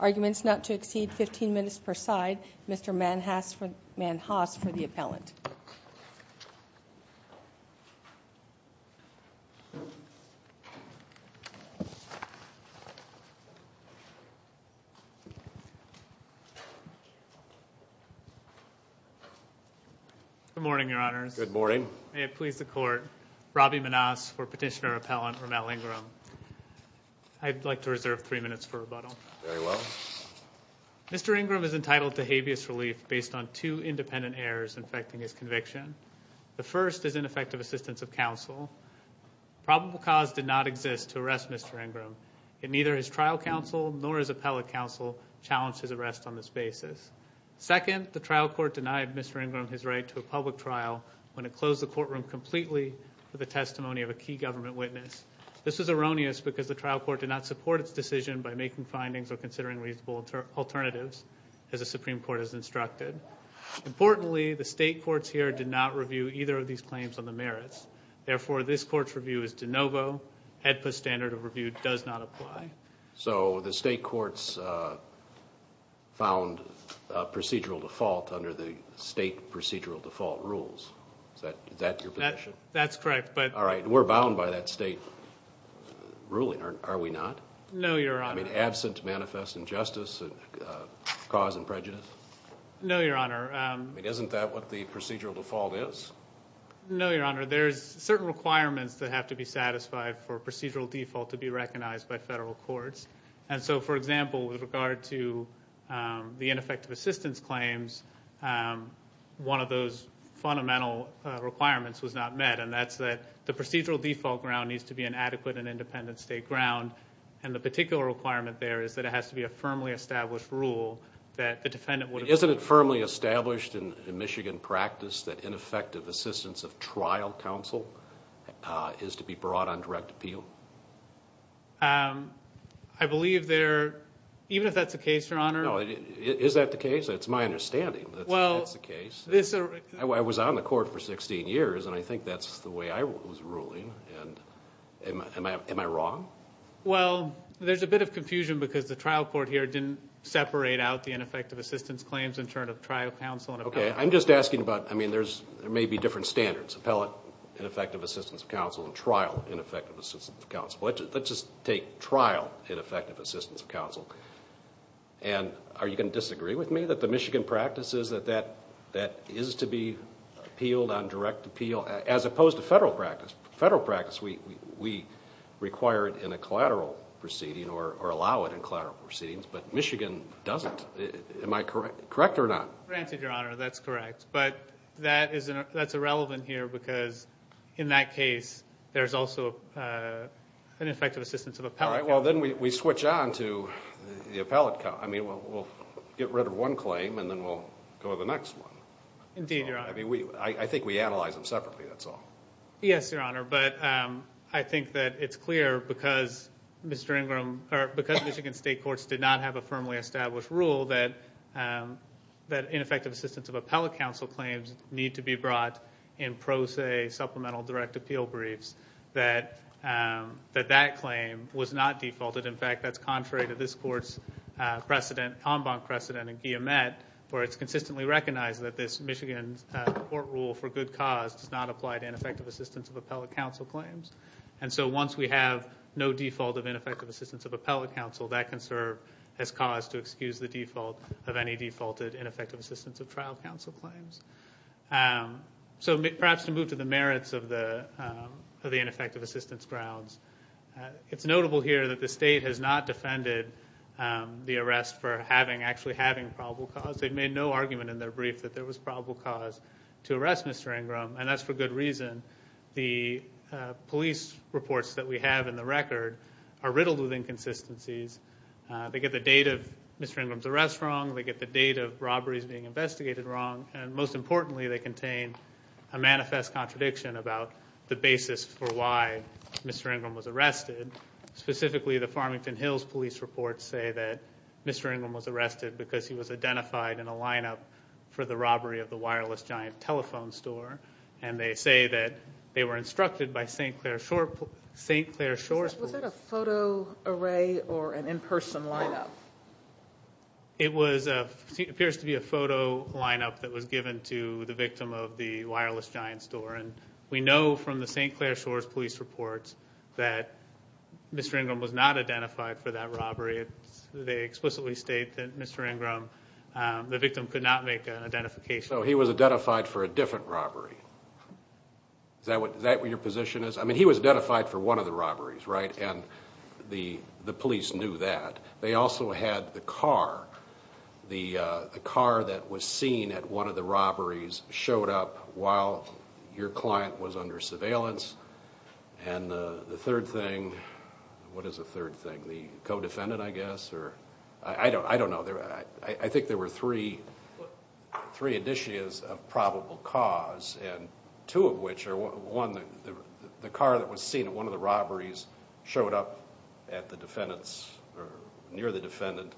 Arguments not to exceed 15 minutes per side, Mr. Manhas for the appellant. Good morning, Your Honors. Good morning. May it please the Court, Robbie Manhas for Petitioner-Appellant Rommel Ingram. I'd like to reserve three minutes for rebuttal. Very well. Mr. Ingram is entitled to habeas relief based on two independent errors affecting his conviction. The first is ineffective assistance of counsel. Probable cause did not exist to arrest Mr. Ingram, and neither his trial counsel nor his appellate counsel challenged his arrest on this basis. Second, the trial court denied Mr. Ingram his right to a public trial when it closed the courtroom completely for the testimony of a key government witness. This was erroneous because the trial court did not support its decision by making findings or considering reasonable alternatives as the Supreme Court has instructed. Importantly, the state courts here did not review either of these claims on the merits. Therefore, this Court's review is de novo. HEDPA standard of review does not apply. So the state courts found procedural default under the state procedural default rules. Is that your position? That's correct. All right. We're bound by that state ruling, are we not? No, Your Honor. I mean, absent manifest injustice, cause and prejudice? No, Your Honor. I mean, isn't that what the procedural default is? No, Your Honor. There's certain requirements that have to be satisfied for procedural default to be recognized by federal courts. And so, for example, with regard to the ineffective assistance claims, one of those fundamental requirements was not met, and that's that the procedural default ground needs to be an adequate and independent state ground. And the particular requirement there is that it has to be a firmly established rule that the defendant would appeal. Isn't it firmly established in Michigan practice that ineffective assistance of trial counsel is to be brought on direct appeal? I believe there, even if that's the case, Your Honor. No, is that the case? It's my understanding that that's the case. I was on the court for 16 years, and I think that's the way I was ruling. Am I wrong? Well, there's a bit of confusion because the trial court here didn't separate out the ineffective assistance claims in terms of trial counsel and appellate. Okay. I'm just asking about, I mean, there may be different standards, appellate ineffective assistance of counsel and trial ineffective assistance of counsel. Let's just take trial ineffective assistance of counsel. And are you going to disagree with me that the Michigan practice is that that is to be appealed on direct appeal, as opposed to federal practice? Federal practice, we require it in a collateral proceeding or allow it in collateral proceedings, but Michigan doesn't. Am I correct or not? Granted, Your Honor, that's correct. But that's irrelevant here because, in that case, there's also ineffective assistance of appellate counsel. All right. Well, then we switch on to the appellate counsel. I mean, we'll get rid of one claim, and then we'll go to the next one. Indeed, Your Honor. I think we analyze them separately, that's all. Yes, Your Honor. But I think that it's clear because Michigan state courts did not have a firmly established rule that ineffective assistance of appellate counsel claims need to be brought in pro se supplemental direct appeal briefs, that that claim was not defaulted. In fact, that's contrary to this Court's precedent, en banc precedent in Guillemette, where it's consistently recognized that this Michigan court rule for good cause does not apply to ineffective assistance of appellate counsel claims. And so once we have no default of ineffective assistance of appellate counsel, that can serve as cause to excuse the default of any defaulted ineffective assistance of trial counsel claims. So perhaps to move to the merits of the ineffective assistance grounds, it's notable here that the state has not defended the arrest for actually having probable cause. They've made no argument in their brief that there was probable cause to arrest Mr. Ingram, and that's for good reason. The police reports that we have in the record are riddled with inconsistencies. They get the date of Mr. Ingram's arrest wrong, they get the date of robberies being investigated wrong, and most importantly, they contain a manifest contradiction about the basis for why Mr. Ingram was arrested. Specifically, the Farmington Hills police reports say that Mr. Ingram was arrested because he was identified in a lineup for the robbery of the wireless giant telephone store, and they say that they were instructed by St. Clair Shoresports. Was that a photo array or an in-person lineup? It appears to be a photo lineup that was given to the victim of the wireless giant store, and we know from the St. Clair Shores police reports that Mr. Ingram was not identified for that robbery. They explicitly state that Mr. Ingram, the victim, could not make an identification. So he was identified for a different robbery. Is that what your position is? I mean, he was identified for one of the robberies, right, and the police knew that. They also had the car. The car that was seen at one of the robberies showed up while your client was under surveillance. And the third thing, what is the third thing? The co-defendant, I guess, or I don't know. I think there were three, three initiatives of probable cause, and two of which are, one, the car that was seen at one of the robberies showed up at the defendant's, or near the defendant,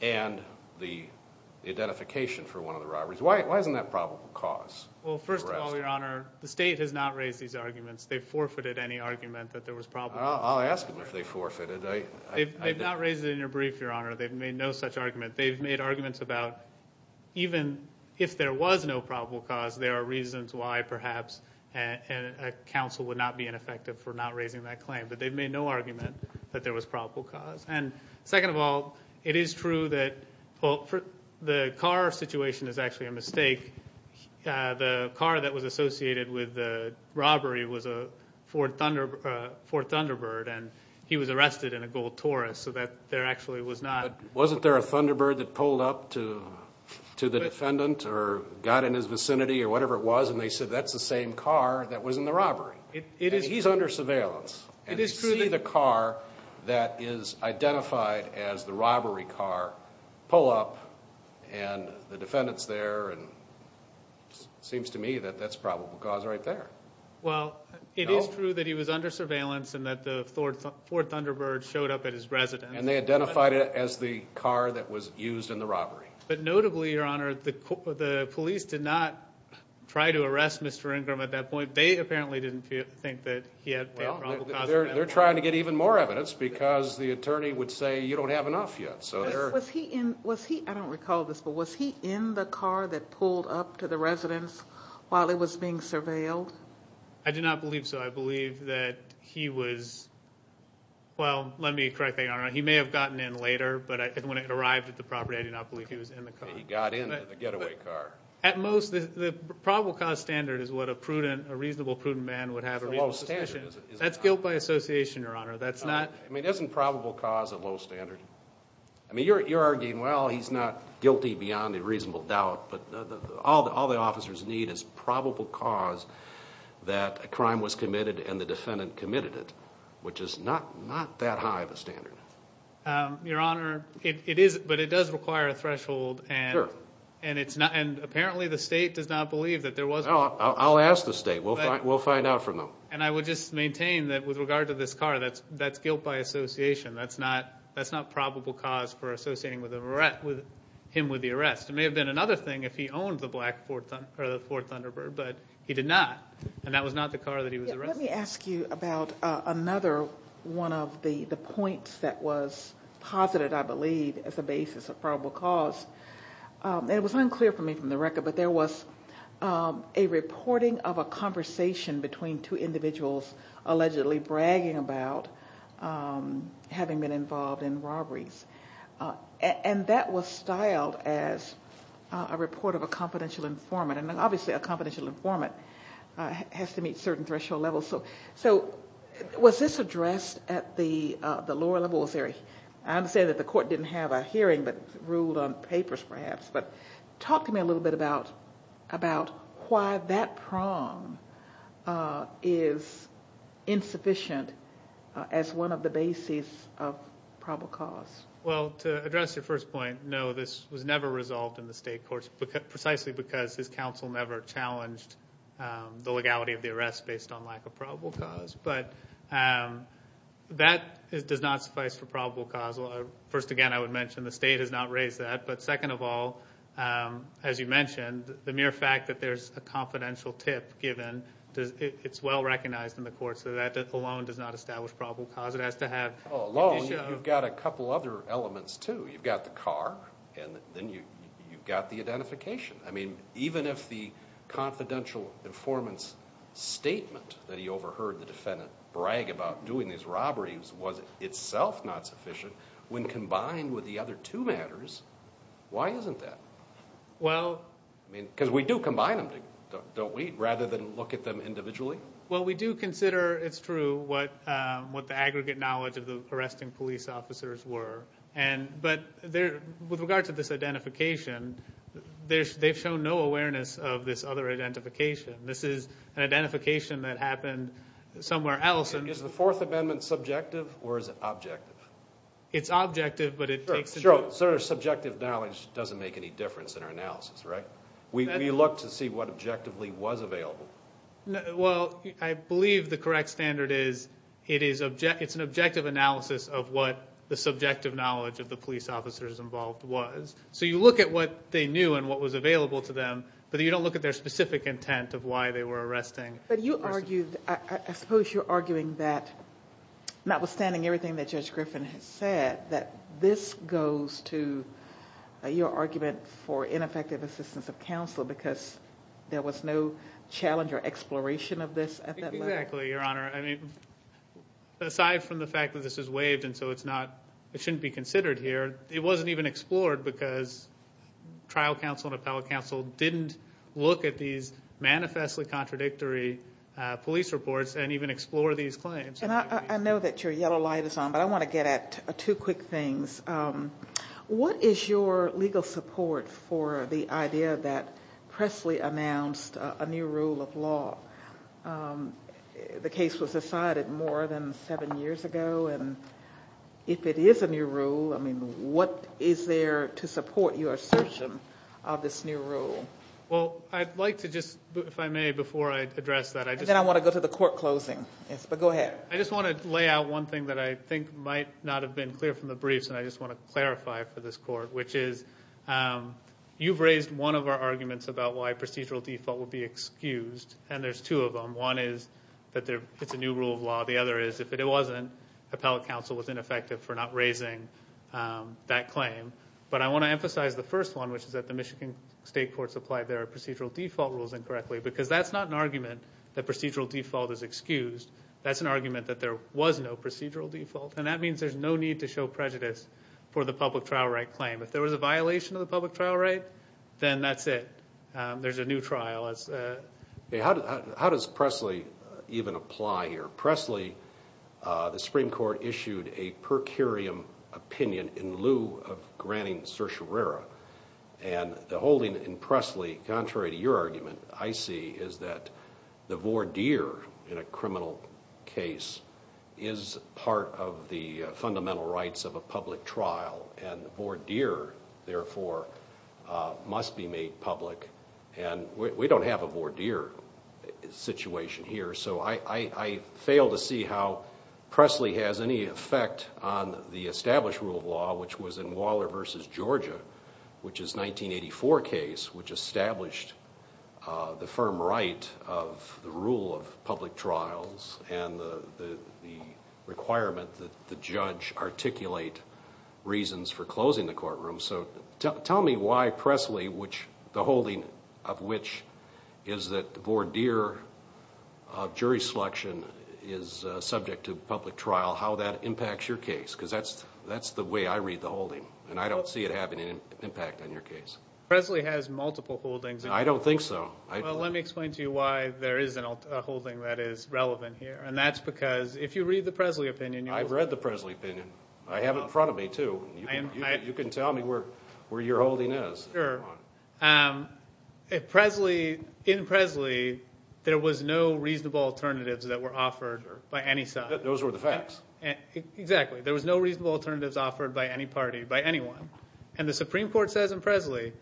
and the identification for one of the robberies. Why isn't that probable cause? Well, first of all, Your Honor, the state has not raised these arguments. They've forfeited any argument that there was probable cause. I'll ask them if they forfeited. They've not raised it in your brief, Your Honor. They've made no such argument. They've made arguments about even if there was no probable cause, there are reasons why perhaps a counsel would not be ineffective for not raising that claim. But they've made no argument that there was probable cause. And second of all, it is true that the car situation is actually a mistake. The car that was associated with the robbery was a Ford Thunderbird, and he was arrested in a gold Taurus, so that there actually was not. But wasn't there a Thunderbird that pulled up to the defendant or got in his vicinity or whatever it was, and they said that's the same car that was in the robbery? And he's under surveillance. And to see the car that is identified as the robbery car pull up, and the defendant's there, and it seems to me that that's probable cause right there. Well, it is true that he was under surveillance and that the Ford Thunderbird showed up at his residence. And they identified it as the car that was used in the robbery. But notably, Your Honor, the police did not try to arrest Mr. Ingram at that point. They apparently didn't think that he had probable cause. They're trying to get even more evidence because the attorney would say you don't have enough yet. Was he in the car that pulled up to the residence while it was being surveilled? I do not believe so. I believe that he was, well, let me correct the Honor. He may have gotten in later, but when it arrived at the property, I do not believe he was in the car. He got in the getaway car. At most, the probable cause standard is what a reasonable, prudent man would have a reasonable suspicion. That's guilt by association, Your Honor. I mean, isn't probable cause a low standard? I mean, you're arguing, well, he's not guilty beyond a reasonable doubt, but all the officers need is probable cause that a crime was committed and the defendant committed it, which is not that high of a standard. Your Honor, it is, but it does require a threshold, and apparently the state does not believe that there was one. I'll ask the state. We'll find out from them. And I would just maintain that with regard to this car, that's guilt by association. That's not probable cause for associating him with the arrest. It may have been another thing if he owned the Ford Thunderbird, but he did not, and that was not the car that he was arrested in. Let me ask you about another one of the points that was posited, I believe, as a basis of probable cause. It was unclear for me from the record, but there was a reporting of a conversation between two individuals allegedly bragging about having been involved in robberies. And that was styled as a report of a confidential informant, and obviously a confidential informant has to meet certain threshold levels. So was this addressed at the lower level? I understand that the court didn't have a hearing but ruled on papers perhaps, but talk to me a little bit about why that prong is insufficient as one of the bases of probable cause. Well, to address your first point, no, this was never resolved in the state courts precisely because his counsel never challenged the legality of the arrest based on lack of probable cause. But that does not suffice for probable cause. First, again, I would mention the state has not raised that. But second of all, as you mentioned, the mere fact that there's a confidential tip given, it's well-recognized in the court, so that alone does not establish probable cause. It has to have... Alone, you've got a couple other elements, too. You've got the car, and then you've got the identification. I mean, even if the confidential informant's statement that he overheard the defendant brag about doing these robberies was itself not sufficient, when combined with the other two matters, why isn't that? Because we do combine them, don't we, rather than look at them individually? Well, we do consider it's true what the aggregate knowledge of the arresting police officers were. But with regard to this identification, they've shown no awareness of this other identification. This is an identification that happened somewhere else. Is the Fourth Amendment subjective or is it objective? It's objective, but it takes into account... Sure, subjective knowledge doesn't make any difference in our analysis, right? We look to see what objectively was available. Well, I believe the correct standard is it's an objective analysis of what the subjective knowledge of the police officers involved was. So you look at what they knew and what was available to them, but you don't look at their specific intent of why they were arresting. But I suppose you're arguing that, notwithstanding everything that Judge Griffin has said, that this goes to your argument for ineffective assistance of counsel because there was no challenge or exploration of this at that level? Exactly, Your Honor. Aside from the fact that this is waived and so it shouldn't be considered here, it wasn't even explored because trial counsel and appellate counsel didn't look at these manifestly contradictory police reports and even explore these claims. I know that your yellow light is on, but I want to get at two quick things. What is your legal support for the idea that Pressley announced a new rule of law? The case was decided more than seven years ago, and if it is a new rule, I mean, what is there to support your assertion of this new rule? Well, I'd like to just, if I may, before I address that. And then I want to go to the court closing. Yes, but go ahead. I just want to lay out one thing that I think might not have been clear from the briefs, and I just want to clarify for this court, which is you've raised one of our arguments about why procedural default would be excused, and there's two of them. One is that it's a new rule of law. The other is if it wasn't, appellate counsel was ineffective for not raising that claim. But I want to emphasize the first one, which is that the Michigan State courts applied their procedural default rules incorrectly, because that's not an argument that procedural default is excused. That's an argument that there was no procedural default, and that means there's no need to show prejudice for the public trial right claim. If there was a violation of the public trial right, then that's it. There's a new trial. How does Presley even apply here? Presley, the Supreme Court issued a per curiam opinion in lieu of granting certiorari, and the holding in Presley, contrary to your argument, I see, is that the voir dire in a criminal case is part of the fundamental rights of a public trial, and the voir dire, therefore, must be made public, and we don't have a voir dire situation here. So I fail to see how Presley has any effect on the established rule of law, which was in Waller v. Georgia, which is a 1984 case, which established the firm right of the rule of public trials and the requirement that the judge articulate reasons for closing the courtroom. So tell me why Presley, the holding of which is that the voir dire of jury selection is subject to public trial, how that impacts your case, because that's the way I read the holding, and I don't see it having an impact on your case. Presley has multiple holdings. I don't think so. Well, let me explain to you why there is a holding that is relevant here, and that's because if you read the Presley opinion you'll see. I've read the Presley opinion. I have it in front of me too. You can tell me where your holding is. Sure. In Presley there was no reasonable alternatives that were offered by any side. Those were the facts. Exactly. There was no reasonable alternatives offered by any party, by anyone, and the Supreme Court says in Presley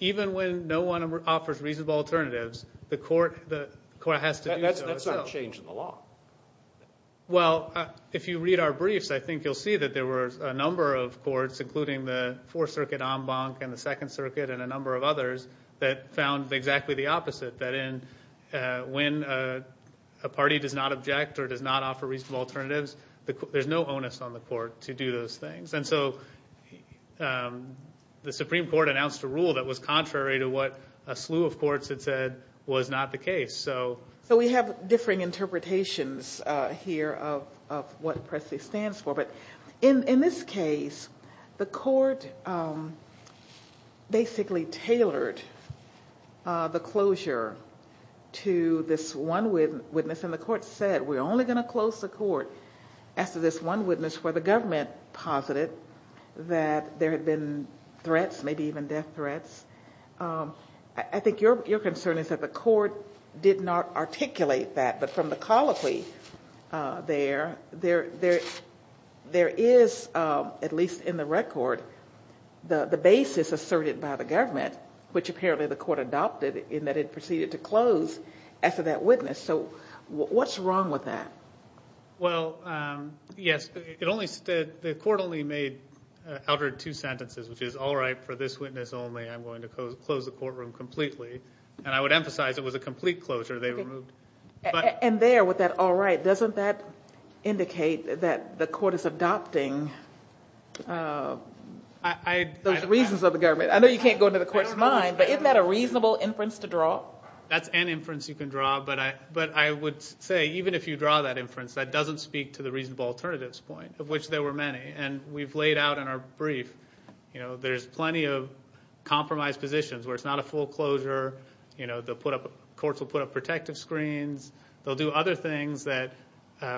even when no one offers reasonable alternatives, the court has to do so. That's not a change in the law. Well, if you read our briefs, I think you'll see that there were a number of courts, including the Fourth Circuit en banc and the Second Circuit and a number of others that found exactly the opposite, that when a party does not object or does not offer reasonable alternatives, there's no onus on the court to do those things. And so the Supreme Court announced a rule that was contrary to what a slew of courts had said was not the case. So we have differing interpretations here of what Presley stands for, but in this case the court basically tailored the closure to this one witness, and the court said we're only going to close the court after this one witness where the government posited that there had been threats, maybe even death threats. I think your concern is that the court did not articulate that, but from the colloquy there, there is, at least in the record, the basis asserted by the government, which apparently the court adopted in that it proceeded to close after that witness. So what's wrong with that? Well, yes, the court only made two sentences, which is, all right, for this witness only I'm going to close the courtroom completely. And I would emphasize it was a complete closure. And there with that all right, doesn't that indicate that the court is adopting those reasons of the government? I know you can't go into the court's mind, but isn't that a reasonable inference to draw? Well, that's an inference you can draw, but I would say even if you draw that inference, that doesn't speak to the reasonable alternatives point, of which there were many. And we've laid out in our brief there's plenty of compromised positions where it's not a full closure. The courts will put up protective screens. They'll do other things that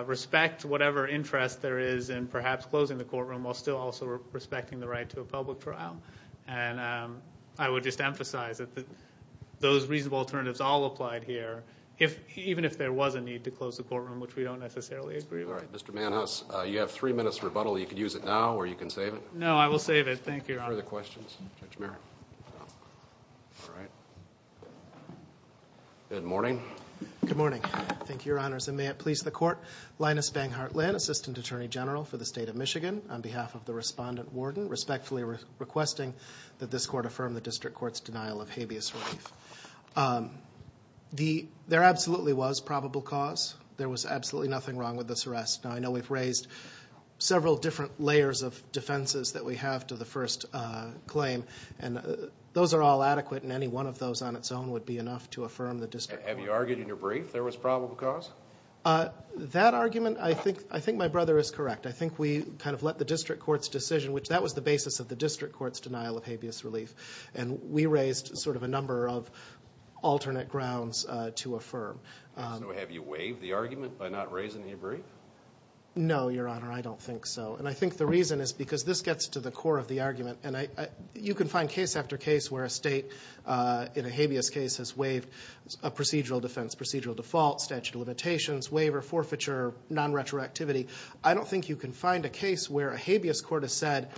respect whatever interest there is in perhaps closing the courtroom while still also respecting the right to a public trial. And I would just emphasize that those reasonable alternatives all applied here, even if there was a need to close the courtroom, which we don't necessarily agree with. All right. Mr. Manhouse, you have three minutes rebuttal. You can use it now or you can save it. No, I will save it. Thank you, Your Honor. Further questions? Judge Merrick. All right. Good morning. Good morning. Thank you, Your Honors. And may it please the court, Linus Banghart Lynn, Assistant Attorney General for the State of Michigan, on behalf of the respondent warden, respectfully requesting that this court affirm the district court's denial of habeas relief. There absolutely was probable cause. There was absolutely nothing wrong with this arrest. Now, I know we've raised several different layers of defenses that we have to the first claim, and those are all adequate and any one of those on its own would be enough to affirm the district court. Have you argued in your brief there was probable cause? That argument, I think my brother is correct. I think we kind of let the district court's decision, which that was the basis of the district court's denial of habeas relief, and we raised sort of a number of alternate grounds to affirm. So have you waived the argument by not raising the brief? No, Your Honor, I don't think so. And I think the reason is because this gets to the core of the argument, and you can find case after case where a state in a habeas case has waived a procedural defense, procedural default, statute of limitations, waiver, forfeiture, non-retroactivity. I don't think you can find a case where a habeas court has said,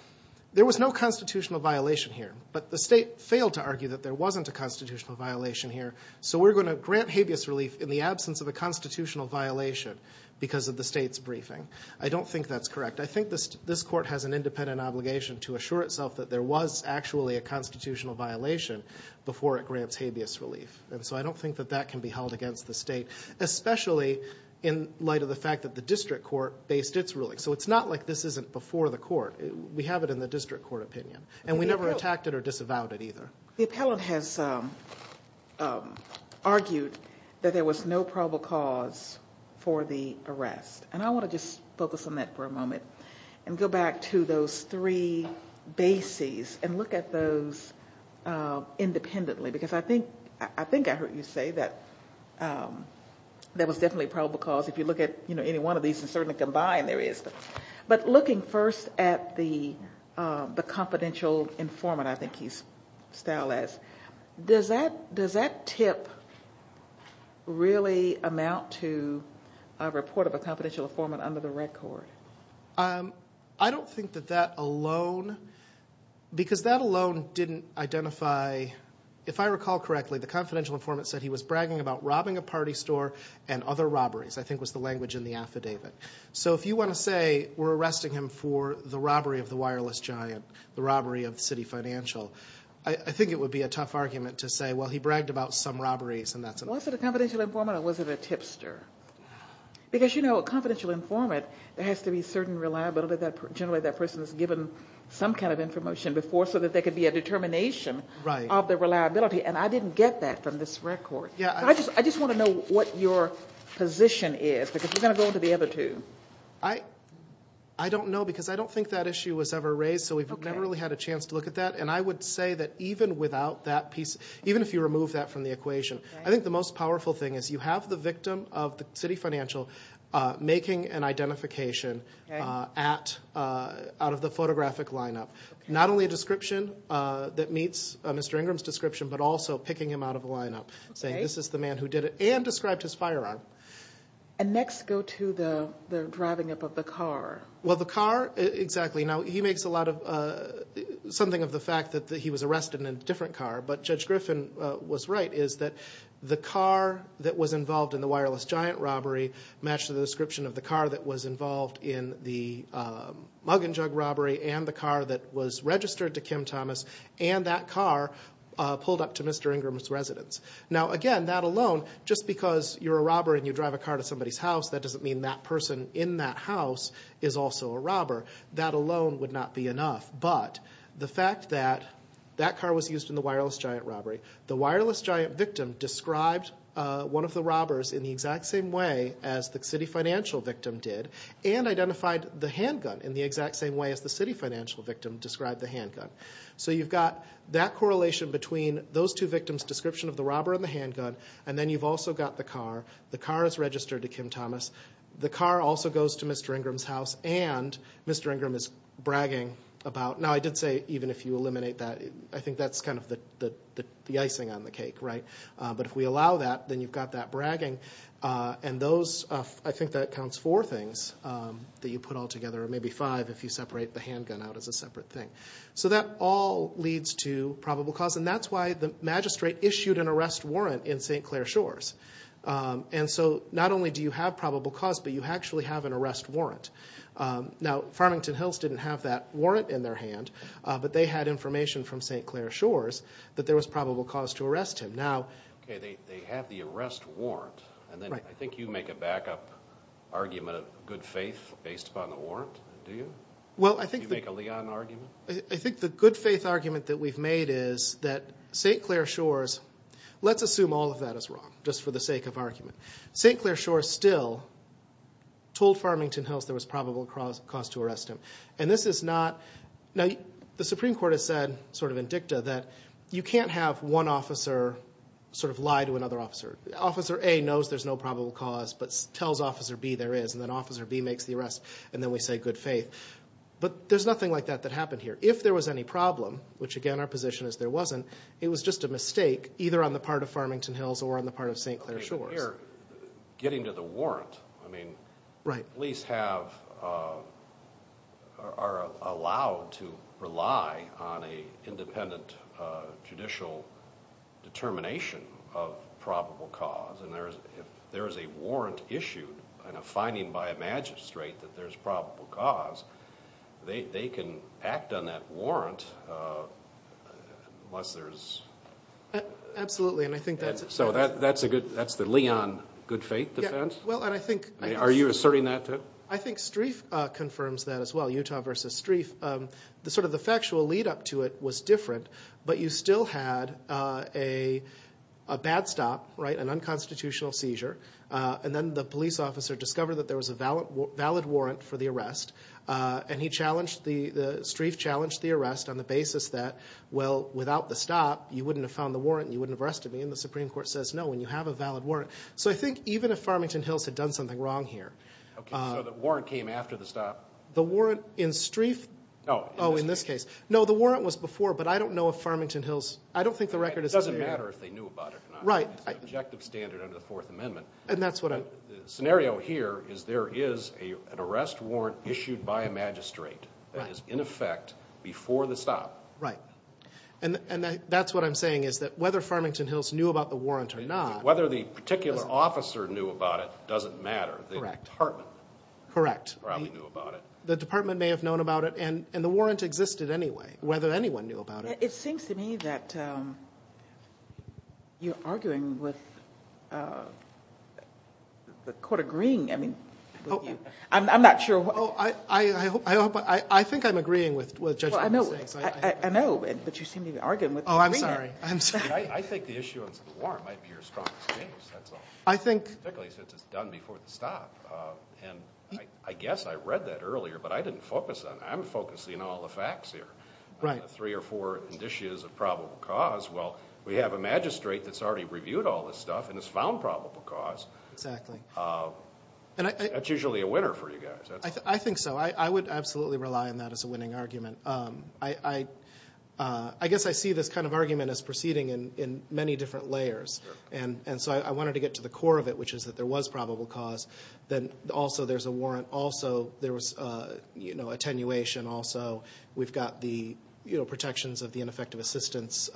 there was no constitutional violation here, but the state failed to argue that there wasn't a constitutional violation here, so we're going to grant habeas relief in the absence of a constitutional violation because of the state's briefing. I don't think that's correct. I think this court has an independent obligation to assure itself that there was actually a constitutional violation before it grants habeas relief, and so I don't think that that can be held against the state, especially in light of the fact that the district court based its ruling. So it's not like this isn't before the court. We have it in the district court opinion, and we never attacked it or disavowed it either. The appellant has argued that there was no probable cause for the arrest, and I want to just focus on that for a moment and go back to those three bases and look at those independently because I think I heard you say that there was definitely probable cause. If you look at any one of these, it's certainly combined there is. But looking first at the confidential informant I think he's styled as, does that tip really amount to a report of a confidential informant under the record? I don't think that that alone, because that alone didn't identify. If I recall correctly, the confidential informant said he was bragging about robbing a party store and other robberies I think was the language in the affidavit. So if you want to say we're arresting him for the robbery of the wireless giant, the robbery of the city financial, I think it would be a tough argument to say, well, he bragged about some robberies and that's enough. Was it a confidential informant or was it a tipster? Because, you know, a confidential informant, there has to be certain reliability that generally that person has given some kind of information before so that there could be a determination of the reliability. And I didn't get that from this record. I just want to know what your position is because we're going to go on to the other two. I don't know because I don't think that issue was ever raised, so we've never really had a chance to look at that. And I would say that even without that piece, even if you remove that from the equation, I think the most powerful thing is you have the victim of the city financial making an identification out of the photographic lineup. Not only a description that meets Mr. Ingram's description, but also picking him out of the lineup, saying this is the man who did it and described his firearm. And next, go to the driving up of the car. Well, the car, exactly. Now, he makes a lot of something of the fact that he was arrested in a different car, but Judge Griffin was right, is that the car that was involved in the wireless giant robbery matched the description of the car that was involved in the mug and jug robbery and the car that was registered to Kim Thomas, and that car pulled up to Mr. Ingram's residence. Now, again, that alone, just because you're a robber and you drive a car to somebody's house, that doesn't mean that person in that house is also a robber. That alone would not be enough. But the fact that that car was used in the wireless giant robbery, the wireless giant victim described one of the robbers in the exact same way as the city financial victim did and identified the handgun in the exact same way as the city financial victim described the handgun. So you've got that correlation between those two victims' description of the robber and the handgun, and then you've also got the car. The car is registered to Kim Thomas. The car also goes to Mr. Ingram's house, and Mr. Ingram is bragging about Now, I did say even if you eliminate that, I think that's kind of the icing on the cake, right? But if we allow that, then you've got that bragging, and those, I think that counts four things that you put all together, or maybe five if you separate the handgun out as a separate thing. So that all leads to probable cause, and that's why the magistrate issued an arrest warrant in St. Clair Shores. And so not only do you have probable cause, but you actually have an arrest warrant. Now, Farmington Hills didn't have that warrant in their hand, but they had information from St. Clair Shores that there was probable cause to arrest him. Okay, they have the arrest warrant, and then I think you make a backup argument of good faith based upon the warrant, do you? Do you make a Leon argument? I think the good faith argument that we've made is that St. Clair Shores, let's assume all of that is wrong, just for the sake of argument. St. Clair Shores still told Farmington Hills there was probable cause to arrest him. And this is not, now the Supreme Court has said, sort of in dicta, that you can't have one officer sort of lie to another officer. Officer A knows there's no probable cause but tells Officer B there is, and then Officer B makes the arrest, and then we say good faith. But there's nothing like that that happened here. If there was any problem, which again our position is there wasn't, it was just a mistake either on the part of Farmington Hills or on the part of St. Clair Shores. Getting to the warrant, I mean, police are allowed to rely on an independent judicial determination of probable cause, and if there is a warrant issued and a finding by a magistrate that there's probable cause, they can act on that warrant unless there's... Absolutely, and I think that's... So that's the Leon good faith defense? Well, and I think... Are you asserting that too? I think Strieff confirms that as well, Utah versus Strieff. The sort of the factual lead up to it was different, but you still had a bad stop, an unconstitutional seizure, and then the police officer discovered that there was a valid warrant for the arrest, and he challenged, Strieff challenged the arrest on the basis that, well, without the stop, you wouldn't have found the warrant, and you wouldn't have arrested me, and the Supreme Court says no when you have a valid warrant. So I think even if Farmington Hills had done something wrong here... Okay, so the warrant came after the stop? The warrant in Strieff... Oh, in this case. No, the warrant was before, but I don't know if Farmington Hills... I don't think the record is... It doesn't matter if they knew about it or not. Right. It's an objective standard under the Fourth Amendment. And that's what I'm... The scenario here is there is an arrest warrant issued by a magistrate that is in effect before the stop. Right. And that's what I'm saying is that whether Farmington Hills knew about the warrant or not... Whether the particular officer knew about it doesn't matter. Correct. The department... Correct. Probably knew about it. The department may have known about it, and the warrant existed anyway, whether anyone knew about it. It seems to me that you're arguing with the court agreeing, I mean, with you. I'm not sure... I think I'm agreeing with Judge Robertson. I know, but you seem to be arguing with the defendant. Oh, I'm sorry. I think the issuance of the warrant might be your strongest case, that's all. I think... Particularly since it's done before the stop. And I guess I read that earlier, but I didn't focus on it. I'm focusing on all the facts here. Right. Three or four indicias of probable cause. Well, we have a magistrate that's already reviewed all this stuff and has found probable cause. Exactly. That's usually a winner for you guys. I think so. I would absolutely rely on that as a winning argument. I guess I see this kind of argument as proceeding in many different layers. And so I wanted to get to the core of it, which is that there was probable cause. Then also there's a warrant. Also there was attenuation. Also we've got the protections of the ineffective assistance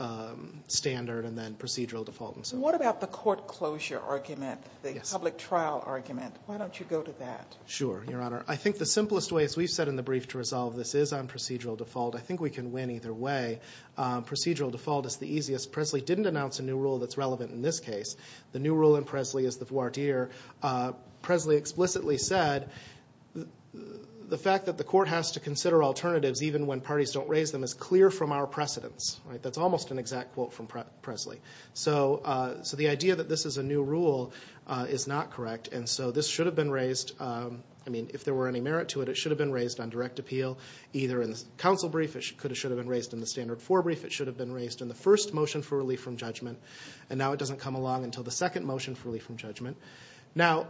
standard and then procedural default. What about the court closure argument, the public trial argument? Why don't you go to that? Sure, Your Honor. I think the simplest way, as we've said in the brief to resolve this, is on procedural default. I think we can win either way. Procedural default is the easiest. Presley didn't announce a new rule that's relevant in this case. The new rule in Presley is the voir dire. Presley explicitly said the fact that the court has to consider alternatives even when parties don't raise them is clear from our precedence. That's almost an exact quote from Presley. So the idea that this is a new rule is not correct. And so this should have been raised. I mean, if there were any merit to it, it should have been raised on direct appeal. Either in the counsel brief, it should have been raised in the standard four brief. It should have been raised in the first motion for relief from judgment. And now it doesn't come along until the second motion for relief from judgment. Now,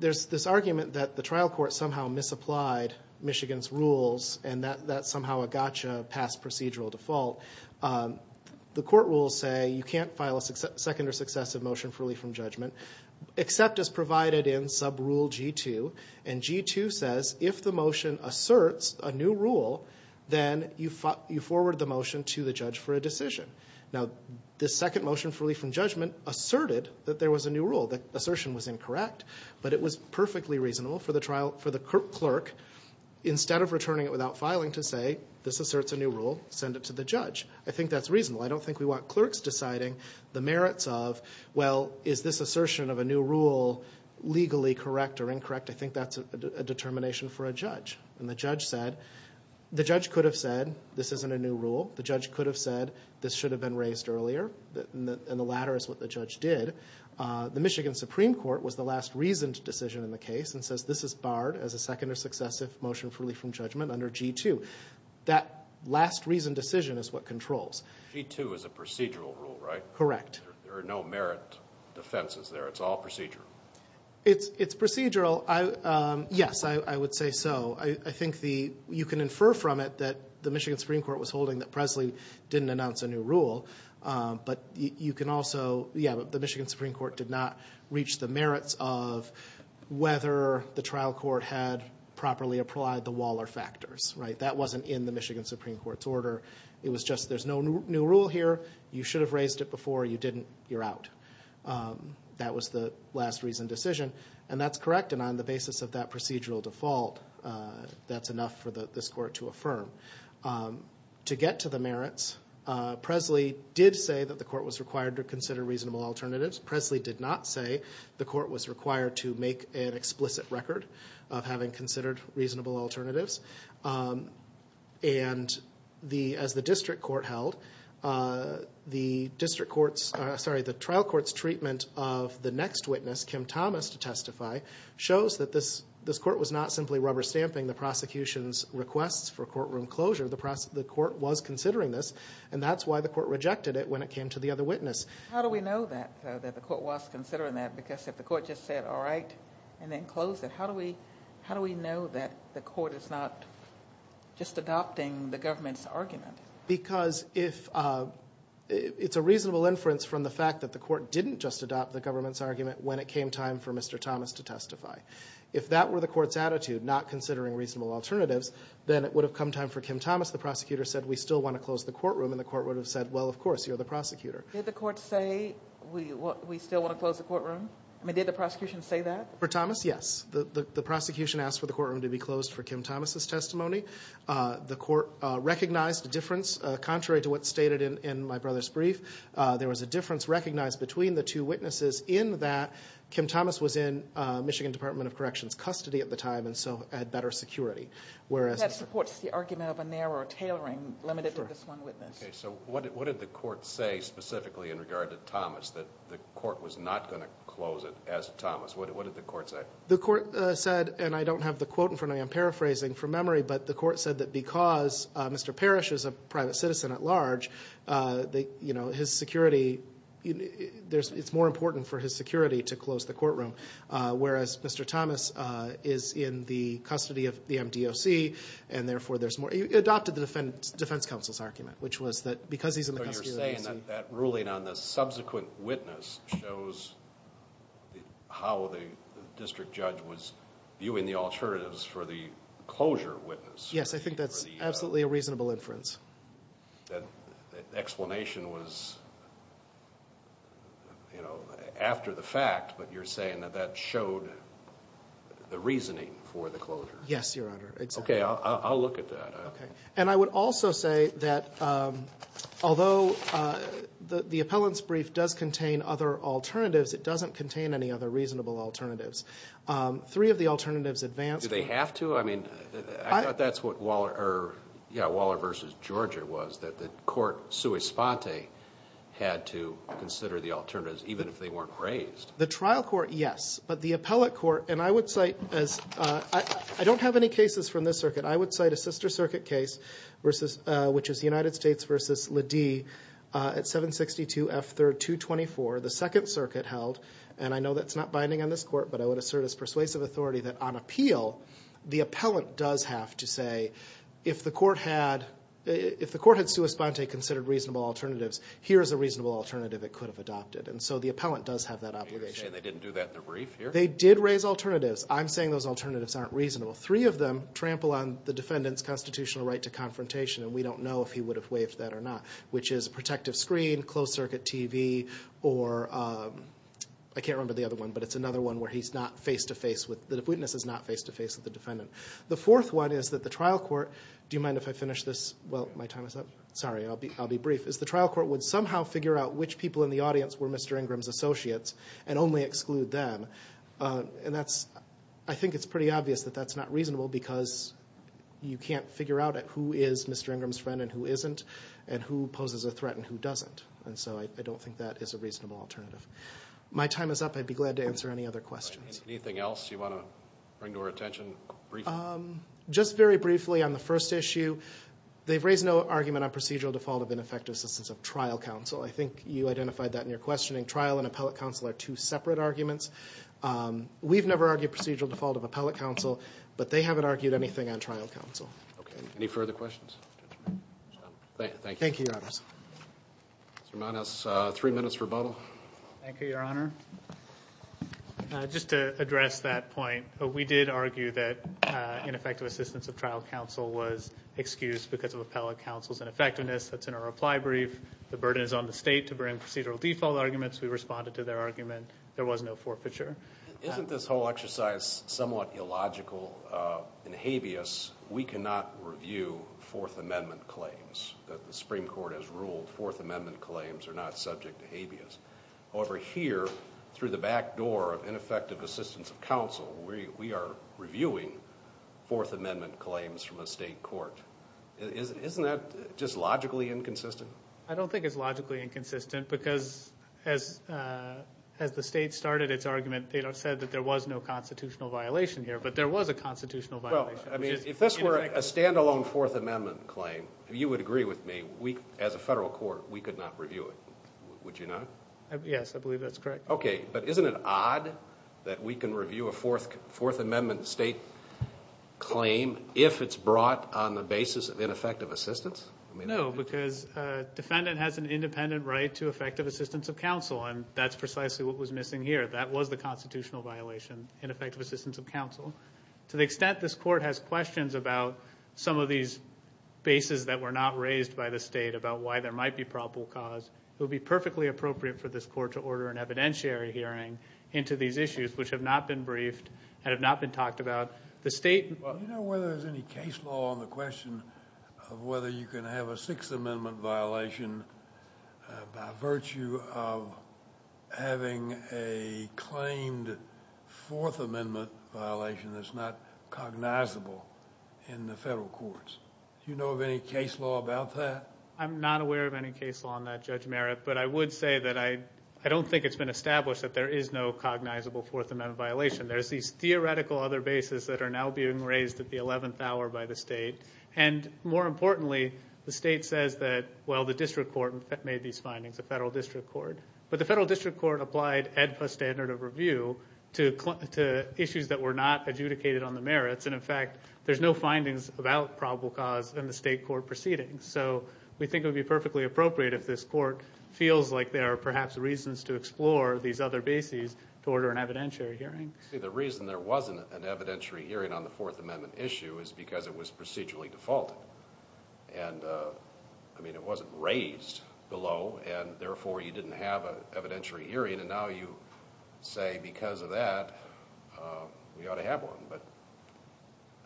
there's this argument that the trial court somehow misapplied Michigan's rules and that's somehow a gotcha past procedural default. The court rules say you can't file a second or successive motion for relief from judgment except as provided in subrule G2. And G2 says if the motion asserts a new rule, then you forward the motion to the judge for a decision. Now, the second motion for relief from judgment asserted that there was a new rule. The assertion was incorrect, but it was perfectly reasonable for the clerk, instead of returning it without filing, to say, this asserts a new rule, send it to the judge. I think that's reasonable. I don't think we want clerks deciding the merits of, well, is this assertion of a new rule legally correct or incorrect? I think that's a determination for a judge. And the judge said, the judge could have said, this isn't a new rule. The judge could have said, this should have been raised earlier. And the latter is what the judge did. The Michigan Supreme Court was the last reasoned decision in the case and says this is barred as a second or successive motion for relief from judgment under G2. That last reasoned decision is what controls. G2 is a procedural rule, right? Correct. There are no merit defenses there. It's all procedural. It's procedural. Yes, I would say so. I think you can infer from it that the Michigan Supreme Court was holding that Presley didn't announce a new rule. But you can also, yeah, the Michigan Supreme Court did not reach the merits of whether the trial court had properly applied the Waller factors. Right? That wasn't in the Michigan Supreme Court's order. It was just, there's no new rule here. You should have raised it before. You didn't. You're out. That was the last reasoned decision. And that's correct. And on the basis of that procedural default, that's enough for this court to affirm. To get to the merits, Presley did say that the court was required to consider reasonable alternatives. Presley did not say the court was required to make an explicit record of having considered reasonable alternatives. And as the district court held, the district court's, sorry, the trial court's treatment of the next witness, Kim Thomas, to testify, shows that this court was not simply rubber stamping the prosecution's requests for courtroom closure. The court was considering this. And that's why the court rejected it when it came to the other witness. How do we know that the court was considering that? Because if the court just said, all right, and then closed it, how do we know that the court is not just adopting the government's argument? Because it's a reasonable inference from the fact that the court didn't just adopt the government's argument when it came time for Mr. Thomas to testify. If that were the court's attitude, not considering reasonable alternatives, then it would have come time for Kim Thomas, the prosecutor, said, we still want to close the courtroom, and the court would have said, well, of course, you're the prosecutor. Did the court say, we still want to close the courtroom? I mean, did the prosecution say that? For Thomas, yes. The prosecution asked for the courtroom to be closed for Kim Thomas' testimony. The court recognized the difference. Contrary to what's stated in my brother's brief, there was a difference recognized between the two witnesses in that Kim Thomas was in Michigan Department of Corrections custody at the time, and so had better security. That supports the argument of a narrow tailoring limited to this one witness. Okay, so what did the court say specifically in regard to Thomas, that the court was not going to close it as Thomas? What did the court say? The court said, and I don't have the quote in front of me, I'm paraphrasing from memory, but the court said that because Mr. Parrish is a private citizen at large, you know, his security, it's more important for his security to close the courtroom, whereas Mr. Thomas is in the custody of the MDOC, and therefore there's more. It adopted the defense counsel's argument, which was that because he's in the custody of the MDOC. So you're saying that ruling on the subsequent witness shows how the district judge was viewing the alternatives for the closure witness? Yes, I think that's absolutely a reasonable inference. The explanation was, you know, after the fact, but you're saying that that showed the reasoning for the closure? Yes, Your Honor. Okay, I'll look at that. And I would also say that although the appellant's brief does contain other alternatives, it doesn't contain any other reasonable alternatives. Three of the alternatives advanced. Do they have to? I mean, I thought that's what Waller versus Georgia was, that the court sui sponte had to consider the alternatives, even if they weren't raised. The trial court, yes. But the appellate court, and I would cite as ‑‑ I don't have any cases from this circuit. I would cite a sister circuit case, which is the United States versus Lede at 762 F. 3rd 224. The second circuit held, and I know that's not binding on this court, but I would assert as persuasive authority that on appeal, the appellant does have to say, if the court had sui sponte considered reasonable alternatives, here is a reasonable alternative it could have adopted. And so the appellant does have that obligation. And they didn't do that in the brief here? They did raise alternatives. I'm saying those alternatives aren't reasonable. Three of them trample on the defendant's constitutional right to confrontation, and we don't know if he would have waived that or not, which is a protective screen, closed circuit TV, or I can't remember the other one, but it's another one where he's not face‑to‑face with ‑‑ the witness is not face‑to‑face with the defendant. The fourth one is that the trial court ‑‑ do you mind if I finish this? Well, my time is up. Sorry, I'll be brief. The trial court would somehow figure out which people in the audience were Mr. Ingram's associates and only exclude them. And that's ‑‑ I think it's pretty obvious that that's not reasonable because you can't figure out who is Mr. Ingram's friend and who isn't, and who poses a threat and who doesn't. And so I don't think that is a reasonable alternative. My time is up. I'd be glad to answer any other questions. Anything else you want to bring to our attention briefly? Just very briefly on the first issue, they've raised no argument on procedural default of ineffective assistance of trial counsel. I think you identified that in your questioning. Trial and appellate counsel are two separate arguments. We've never argued procedural default of appellate counsel, but they haven't argued anything on trial counsel. Okay. Any further questions? Thank you. Thank you, Your Honors. Mr. Mann has three minutes for rebuttal. Thank you, Your Honor. Just to address that point, we did argue that ineffective assistance of trial counsel was excused because of appellate counsel's ineffectiveness. That's in our reply brief. The burden is on the state to bring procedural default arguments. We responded to their argument. There was no forfeiture. Isn't this whole exercise somewhat illogical? In habeas, we cannot review Fourth Amendment claims. The Supreme Court has ruled Fourth Amendment claims are not subject to habeas. However, here, through the back door of ineffective assistance of counsel, we are reviewing Fourth Amendment claims from a state court. Isn't that just logically inconsistent? I don't think it's logically inconsistent because as the state started its argument, they said that there was no constitutional violation here, but there was a constitutional violation. If this were a standalone Fourth Amendment claim, you would agree with me, as a federal court, we could not review it. Would you not? Yes, I believe that's correct. Okay. But isn't it odd that we can review a Fourth Amendment state claim if it's brought on the basis of ineffective assistance? No, because defendant has an independent right to effective assistance of counsel, and that's precisely what was missing here. That was the constitutional violation, ineffective assistance of counsel. To the extent this court has questions about some of these bases that were not raised by the state about why there might be probable cause, it would be perfectly appropriate for this court to order an evidentiary hearing into these issues, which have not been briefed and have not been talked about. Do you know whether there's any case law on the question of whether you can have a Sixth Amendment violation by virtue of having a claimed Fourth Amendment violation that's not cognizable in the federal courts? Do you know of any case law about that? I'm not aware of any case law on that, Judge Merritt, but I would say that I don't think it's been established that there is no cognizable Fourth Amendment violation. There's these theoretical other bases that are now being raised at the 11th hour by the state, and more importantly, the state says that, well, the district court made these findings, the federal district court. But the federal district court applied AEDPA standard of review to issues that were not adjudicated on the merits, and in fact there's no findings about probable cause in the state court proceedings. So we think it would be perfectly appropriate if this court feels like there are perhaps reasons to explore these other bases to order an evidentiary hearing. See, the reason there wasn't an evidentiary hearing on the Fourth Amendment issue is because it was procedurally defaulted. And, I mean, it wasn't raised below, and therefore you didn't have an evidentiary hearing, and now you say because of that we ought to have one. But,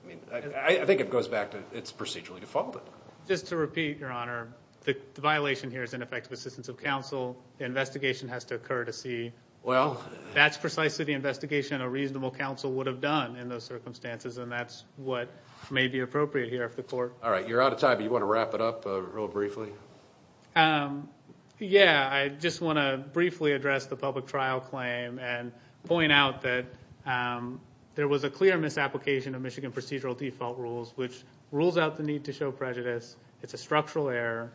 I mean, I think it goes back to it's procedurally defaulted. Just to repeat, Your Honor, the violation here is ineffective assistance of counsel. The investigation has to occur to see. Well. That's precisely the investigation a reasonable counsel would have done in those circumstances, and that's what may be appropriate here if the court. All right, you're out of time. Do you want to wrap it up real briefly? Yeah, I just want to briefly address the public trial claim and point out that there was a clear misapplication of Michigan procedural default rules, which rules out the need to show prejudice. It's a structural error.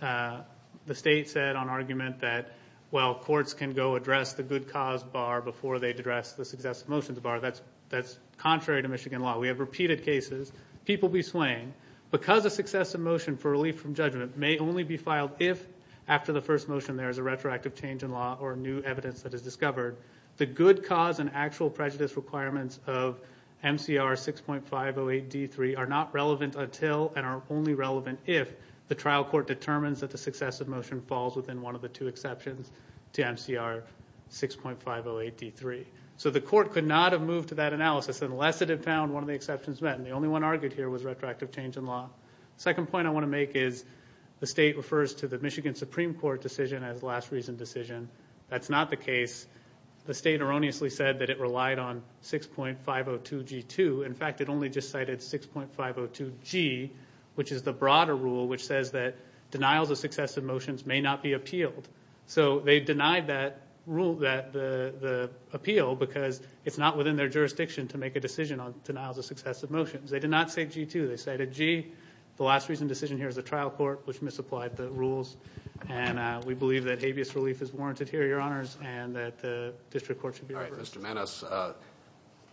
The state said on argument that, well, courts can go address the good cause bar before they address the success of motions bar. That's contrary to Michigan law. We have repeated cases. People be swaying. Because a success of motion for relief from judgment may only be filed if after the first motion there is a retroactive change in law or new evidence that is discovered, the good cause and actual prejudice requirements of MCR 6.508D3 are not relevant until and are only relevant if the trial court determines that the success of motion falls within one of the two exceptions to MCR 6.508D3. So the court could not have moved to that analysis unless it had found one of the exceptions met, and the only one argued here was retroactive change in law. The second point I want to make is the state refers to the Michigan Supreme Court decision as last reason decision. That's not the case. The state erroneously said that it relied on 6.502G2. In fact, it only just cited 6.502G, which is the broader rule, which says that denials of success of motions may not be appealed. So they denied that appeal because it's not within their jurisdiction to make a decision on denials of success of motions. They did not say G2. They cited G. The last reason decision here is the trial court, which misapplied the rules, and we believe that habeas relief is warranted here, Your Honors, and that the district court should be reversed. All right, Mr.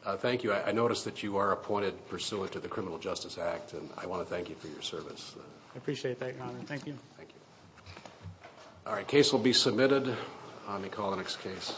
Maness, thank you. I notice that you are appointed pursuant to the Criminal Justice Act, and I want to thank you for your service. I appreciate that, Your Honor. Thank you. Thank you. All right, case will be submitted. Let me call the next case.